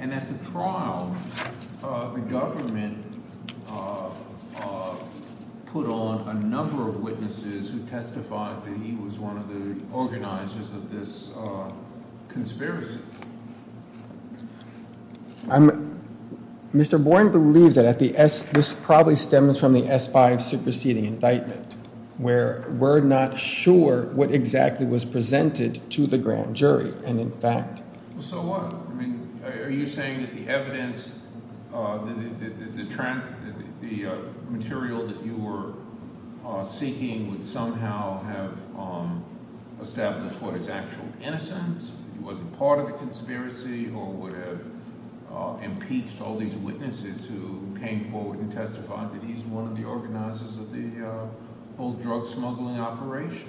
and at the trial the government put on a number of witnesses who testified that he was one of the organizers of this conspiracy. Mr. Bourne believes that this probably stems from the S-5 superseding indictment where we're not sure what exactly was presented to the grand jury. So what? Are you saying that the evidence, the material that you were seeking would somehow have established what is actual innocence? He wasn't part of the conspiracy or would have impeached all these witnesses who came forward and testified that he's one of the organizers of the whole drug smuggling operation?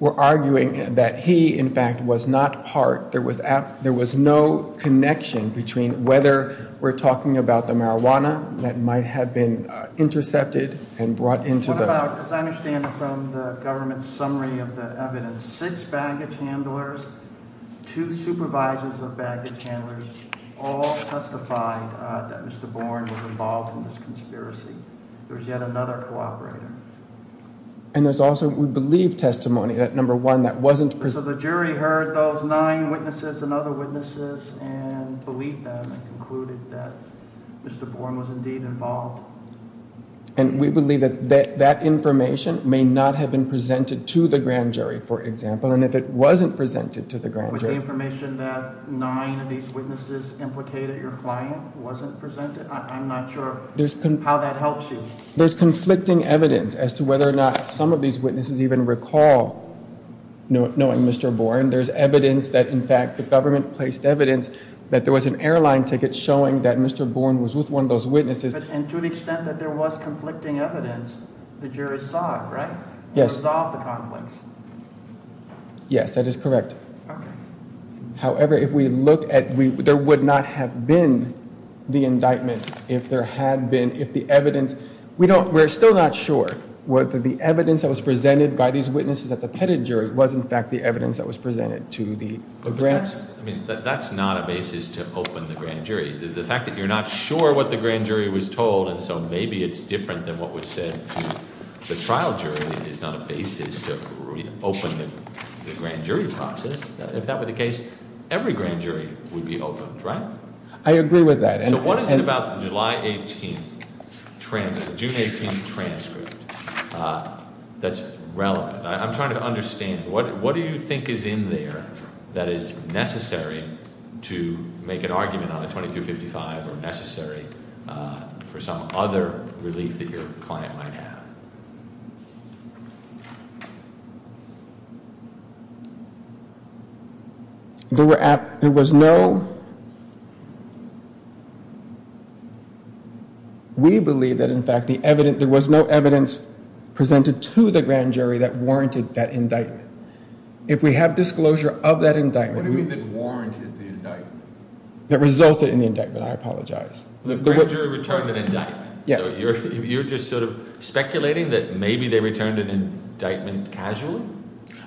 We're arguing that he, in fact, was not part. There was no connection between whether we're talking about the marijuana that might have been intercepted and brought into the… What about, as I understand from the government's summary of the evidence, six baggage handlers, two supervisors of baggage handlers all testified that Mr. Bourne was involved in this conspiracy. There was yet another cooperator. And there's also, we believe, testimony that, number one, that wasn't… So the jury heard those nine witnesses and other witnesses and believed them and concluded that Mr. Bourne was indeed involved. And we believe that that information may not have been presented to the grand jury, for example, and if it wasn't presented to the grand jury… There's conflicting evidence as to whether or not some of these witnesses even recall knowing Mr. Bourne. There's evidence that, in fact, the government placed evidence that there was an airline ticket showing that Mr. Bourne was with one of those witnesses. And to the extent that there was conflicting evidence, the jurors saw it, right? Yes. Or saw the conflicts. Yes, that is correct. Okay. However, if we look at – there would not have been the indictment if there had been – if the evidence – we're still not sure whether the evidence that was presented by these witnesses at the Petit jury was, in fact, the evidence that was presented to the grand jury. That's not a basis to open the grand jury. The fact that you're not sure what the grand jury was told, and so maybe it's different than what was said to the trial jury, is not a basis to open the grand jury process. If that were the case, every grand jury would be opened, right? I agree with that. So what is it about the July 18th transcript – the June 18th transcript that's relevant? I'm trying to understand. What do you think is in there that is necessary to make an argument on the 2255 or necessary for some other relief that your client might have? There were – there was no – we believe that, in fact, the evidence – there was no evidence presented to the grand jury that warranted that indictment. If we have disclosure of that indictment – What do you mean that warranted the indictment? That resulted in the indictment. I apologize. The grand jury returned an indictment. So you're just sort of speculating that maybe they returned an indictment casually?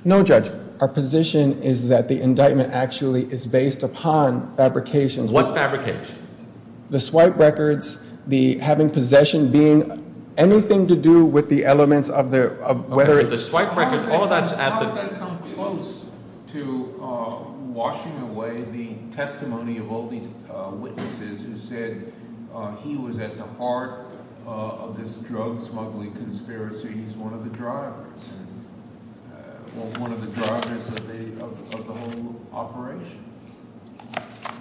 No, Judge. Our position is that the indictment actually is based upon fabrications. What fabrications? The swipe records, the having possession, being – anything to do with the elements of the – The swipe records, all that's at the – You've got to come close to washing away the testimony of all these witnesses who said he was at the heart of this drug smuggling conspiracy. He's one of the drivers. One of the drivers of the whole operation.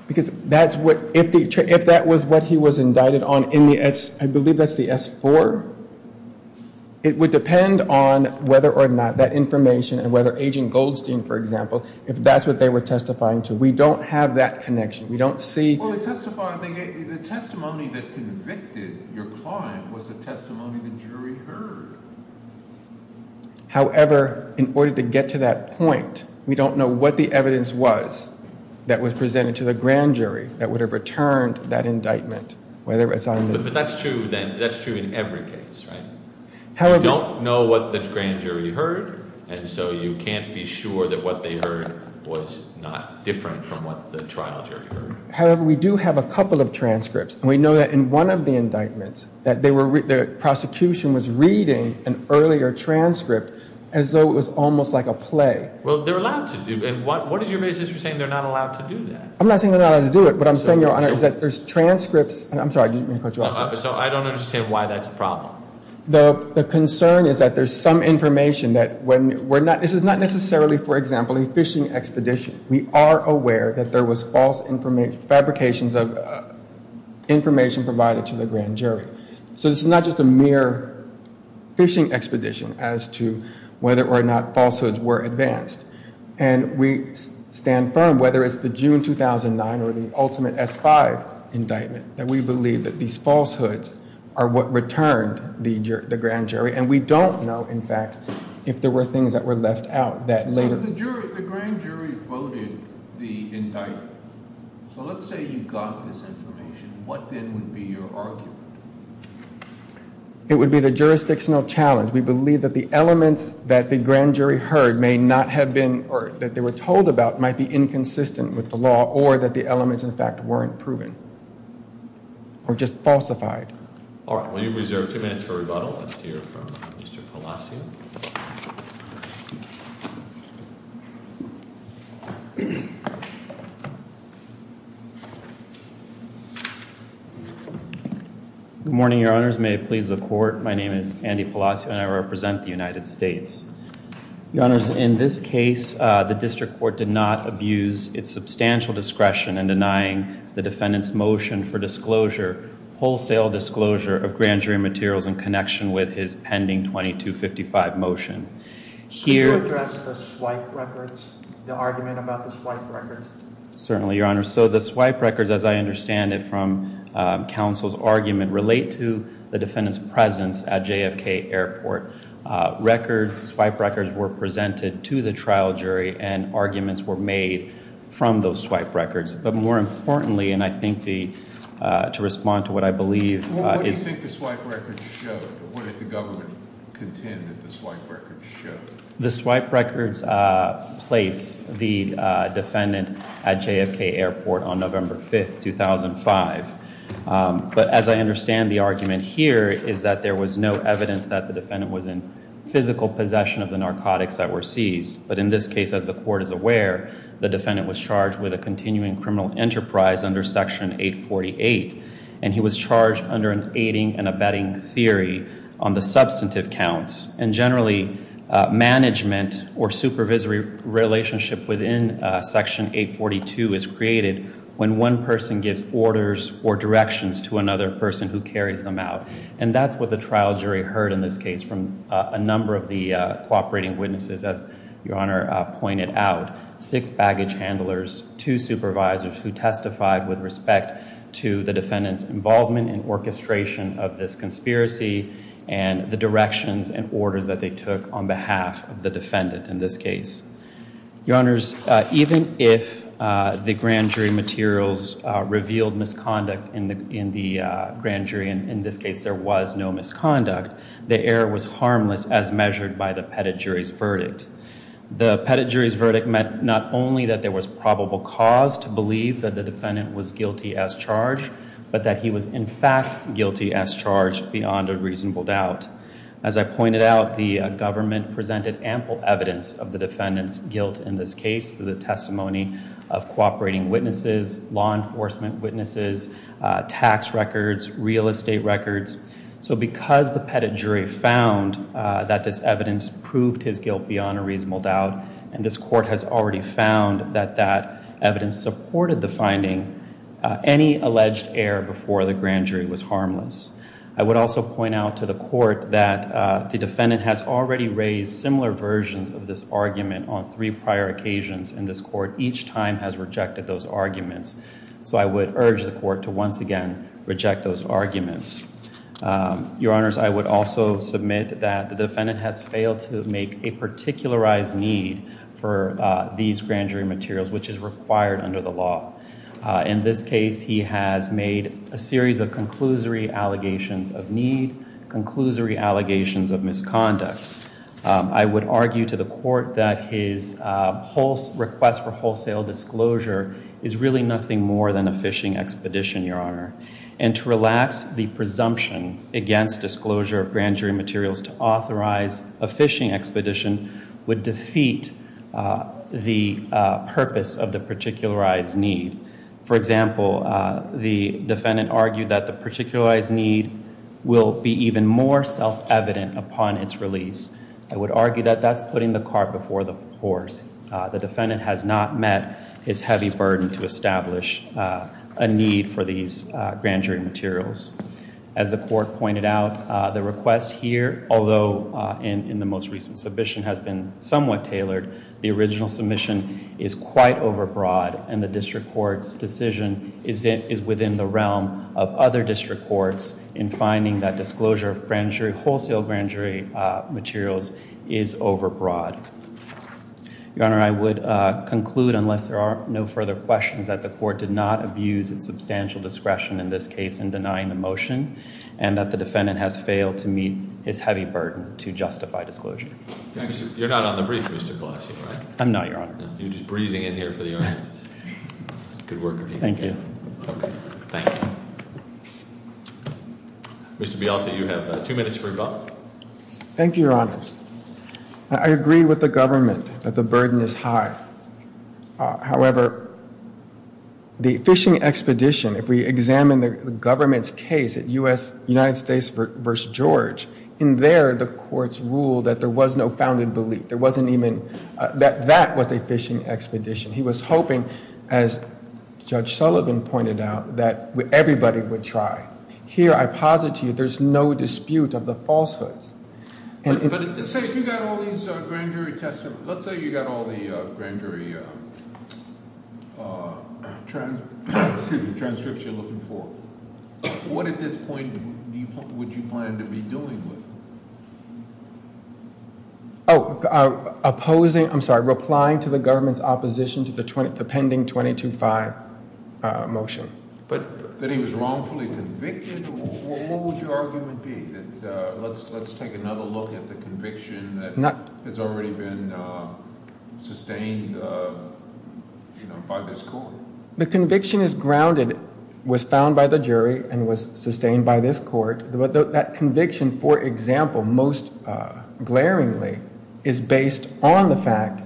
Because that's what – if that was what he was indicted on in the – I believe that's the S-4. It would depend on whether or not that information and whether Agent Goldstein, for example, if that's what they were testifying to. We don't have that connection. We don't see – Well, the testimony that convicted your client was the testimony the jury heard. However, in order to get to that point, we don't know what the evidence was that was presented to the grand jury that would have returned that indictment. But that's true then. That's true in every case, right? However – You don't know what the grand jury heard, and so you can't be sure that what they heard was not different from what the trial jury heard. However, we do have a couple of transcripts. We know that in one of the indictments that they were – the prosecution was reading an earlier transcript as though it was almost like a play. Well, they're allowed to do – and what is your basis for saying they're not allowed to do that? I'm not saying they're not allowed to do it. What I'm saying, Your Honor, is that there's transcripts – and I'm sorry. So I don't understand why that's a problem. The concern is that there's some information that when we're not – this is not necessarily, for example, a fishing expedition. We are aware that there was false fabrications of information provided to the grand jury. So this is not just a mere fishing expedition as to whether or not falsehoods were advanced. And we stand firm, whether it's the June 2009 or the ultimate S-5 indictment, that we believe that these falsehoods are what returned the grand jury. And we don't know, in fact, if there were things that were left out that later – But the grand jury voted the indictment. So let's say you got this information. What then would be your argument? It would be the jurisdictional challenge. We believe that the elements that the grand jury heard may not have been – or that they were told about might be inconsistent with the law or that the elements, in fact, weren't proven or just falsified. All right. We reserve two minutes for rebuttal. Let's hear from Mr. Palacio. Good morning, Your Honors. May it please the Court. My name is Andy Palacio, and I represent the United States. Your Honors, in this case, the district court did not abuse its substantial discretion in denying the defendant's motion for disclosure, wholesale disclosure, of grand jury materials in connection with his pending 2255 motion. Could you address the swipe records, the argument about the swipe records? Certainly, Your Honors. So the swipe records, as I understand it from counsel's argument, relate to the defendant's presence at JFK Airport. Swipe records were presented to the trial jury, and arguments were made from those swipe records. But more importantly, and I think to respond to what I believe is – What do you think the swipe records show? What did the government contend that the swipe records show? The swipe records place the defendant at JFK Airport on November 5, 2005. But as I understand the argument here is that there was no evidence that the defendant was in physical possession of the narcotics that were seized. But in this case, as the Court is aware, the defendant was charged with a continuing criminal enterprise under Section 848. And he was charged under an aiding and abetting theory on the substantive counts. And generally, management or supervisory relationship within Section 842 is created when one person gives orders or directions to another person who carries them out. And that's what the trial jury heard in this case from a number of the cooperating witnesses, as Your Honor pointed out. Six baggage handlers, two supervisors who testified with respect to the defendant's involvement and orchestration of this conspiracy. And the directions and orders that they took on behalf of the defendant in this case. Your Honors, even if the grand jury materials revealed misconduct in the grand jury, and in this case there was no misconduct, the error was harmless as measured by the pettit jury's verdict. The pettit jury's verdict meant not only that there was probable cause to believe that the defendant was guilty as charged, but that he was in fact guilty as charged beyond a reasonable doubt. As I pointed out, the government presented ample evidence of the defendant's guilt in this case through the testimony of cooperating witnesses, law enforcement witnesses, tax records, real estate records. So because the pettit jury found that this evidence proved his guilt beyond a reasonable doubt, and this court has already found that that evidence supported the finding, any alleged error before the grand jury was harmless. I would also point out to the court that the defendant has already raised similar versions of this argument on three prior occasions in this court. Each time has rejected those arguments. So I would urge the court to once again reject those arguments. Your Honors, I would also submit that the defendant has failed to make a particularized need for these grand jury materials, which is required under the law. In this case, he has made a series of conclusory allegations of need, conclusory allegations of misconduct. I would argue to the court that his request for wholesale disclosure is really nothing more than a phishing expedition, Your Honor. And to relax the presumption against disclosure of grand jury materials to authorize a phishing expedition would defeat the purpose of the particularized need. For example, the defendant argued that the particularized need will be even more self-evident upon its release. I would argue that that's putting the cart before the horse. The defendant has not met his heavy burden to establish a need for these grand jury materials. As the court pointed out, the request here, although in the most recent submission has been somewhat tailored, the original submission is quite overbroad. And the district court's decision is within the realm of other district courts in finding that disclosure of wholesale grand jury materials is overbroad. Your Honor, I would conclude, unless there are no further questions, that the court did not abuse its substantial discretion in this case in denying the motion, and that the defendant has failed to meet his heavy burden to justify disclosure. You're not on the brief, Mr. Gillespie, right? I'm not, Your Honor. You're just breezing in here for the audience. Good work. Thank you. Thank you. Mr. Bialce, you have two minutes for rebuttal. Thank you, Your Honor. I agree with the government that the burden is high. However, the phishing expedition, if we examine the government's case at United States v. George, in there the courts ruled that there was no founded belief. There wasn't even that that was a phishing expedition. He was hoping, as Judge Sullivan pointed out, that everybody would try. Here I posit to you there's no dispute of the falsehoods. But let's say you got all these grand jury testimony. Let's say you got all the grand jury transcripts you're looking for. What at this point would you plan to be doing with them? Oh, opposing, I'm sorry, replying to the government's opposition to the pending 22-5 motion. That he was wrongfully convicted? What would your argument be? Let's take another look at the conviction that has already been sustained by this court. The conviction is grounded, was found by the jury, and was sustained by this court. But that conviction, for example, most glaringly, is based on the fact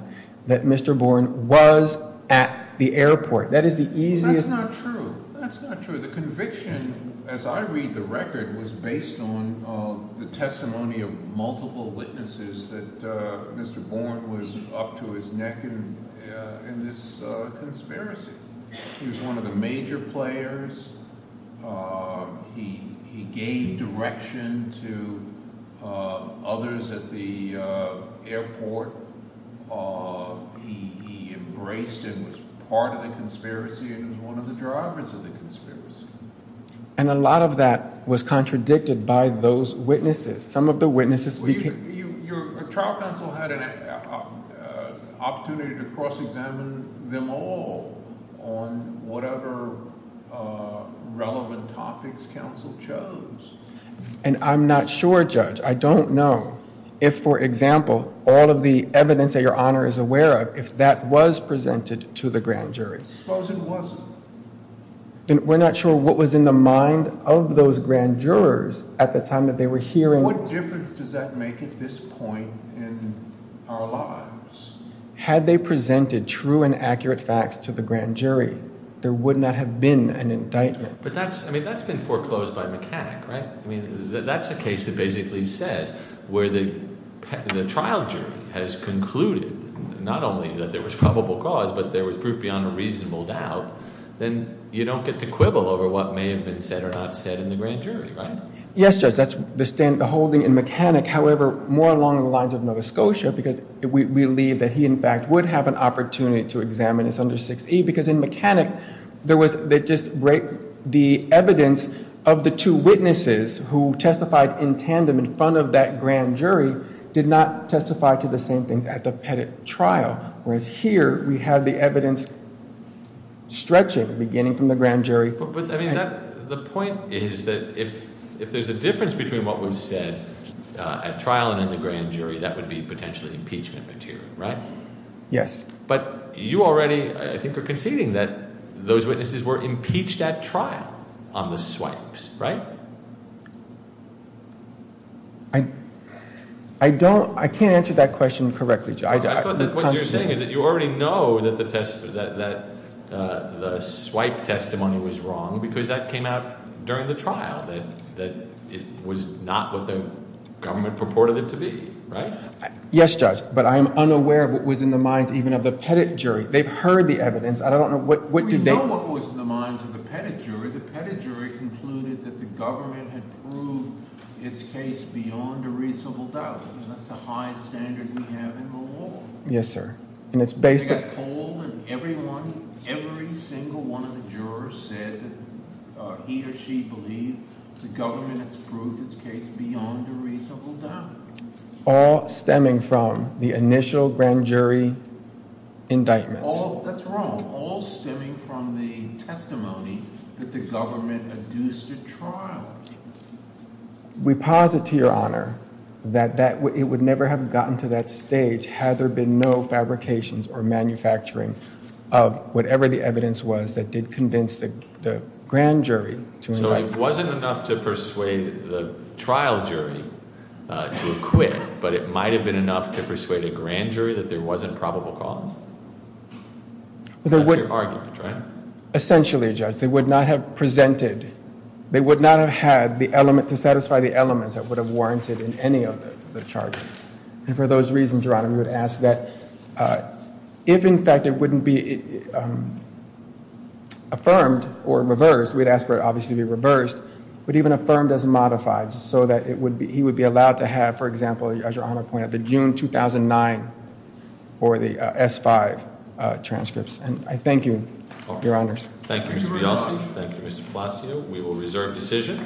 that Mr. Born was at the airport. That is the easiest- That's not true. That's not true. The conviction, as I read the record, was based on the testimony of multiple witnesses that Mr. Born was up to his neck in this conspiracy. He was one of the major players. He gave direction to others at the airport. He embraced and was part of the conspiracy and was one of the drivers of the conspiracy. And a lot of that was contradicted by those witnesses. Some of the witnesses- Your trial counsel had an opportunity to cross-examine them all on whatever relevant topics counsel chose. And I'm not sure, Judge, I don't know if, for example, all of the evidence that your Honor is aware of, if that was presented to the grand jury. Suppose it wasn't. We're not sure what was in the mind of those grand jurors at the time that they were hearing- What difference does that make at this point in our lives? Had they presented true and accurate facts to the grand jury, there would not have been an indictment. But that's- I mean, that's been foreclosed by a mechanic, right? I mean, that's a case that basically says where the trial jury has concluded not only that there was probable cause, but there was proof beyond a reasonable doubt, then you don't get to quibble over what may have been said or not said in the grand jury, right? Yes, Judge, that's the holding in mechanic. However, more along the lines of Nova Scotia, because we believe that he, in fact, would have an opportunity to examine this under 6E. Because in mechanic, they just break the evidence of the two witnesses who testified in tandem in front of that grand jury did not testify to the same things at the Pettit trial. Whereas here, we have the evidence stretching, beginning from the grand jury. But, I mean, the point is that if there's a difference between what was said at trial and in the grand jury, that would be potentially impeachment material, right? Yes. But you already, I think, are conceding that those witnesses were impeached at trial on the swipes, right? I don't- I can't answer that question correctly, Judge. What you're saying is that you already know that the swipe testimony was wrong because that came out during the trial, that it was not what the government purported it to be, right? Yes, Judge. But I am unaware of what was in the minds even of the Pettit jury. They've heard the evidence. I don't know what did they- We know what was in the minds of the Pettit jury. The Pettit jury concluded that the government had proved its case beyond a reasonable doubt. That's a high standard we have in the law. Yes, sir. And it's based on- Every single one of the jurors said that he or she believed the government has proved its case beyond a reasonable doubt. All stemming from the initial grand jury indictments. That's wrong. All stemming from the testimony that the government adduced at trial. We posit to your honor that it would never have gotten to that stage had there been no fabrications or manufacturing of whatever the evidence was that did convince the grand jury to- So it wasn't enough to persuade the trial jury to acquit, but it might have been enough to persuade a grand jury that there wasn't probable cause? That's your argument, right? Essentially, Judge. They would not have presented, they would not have had the element to satisfy the elements that would have warranted in any of the charges. And for those reasons, your honor, we would ask that if in fact it wouldn't be affirmed or reversed, we'd ask for it obviously to be reversed, but even affirmed as modified. So that he would be allowed to have, for example, as your honor pointed out, the June 2009 or the S-5 transcripts. And I thank you, your honors. Thank you, Mr. Bialci. Thank you, Mr. Palacio. We will reserve decision.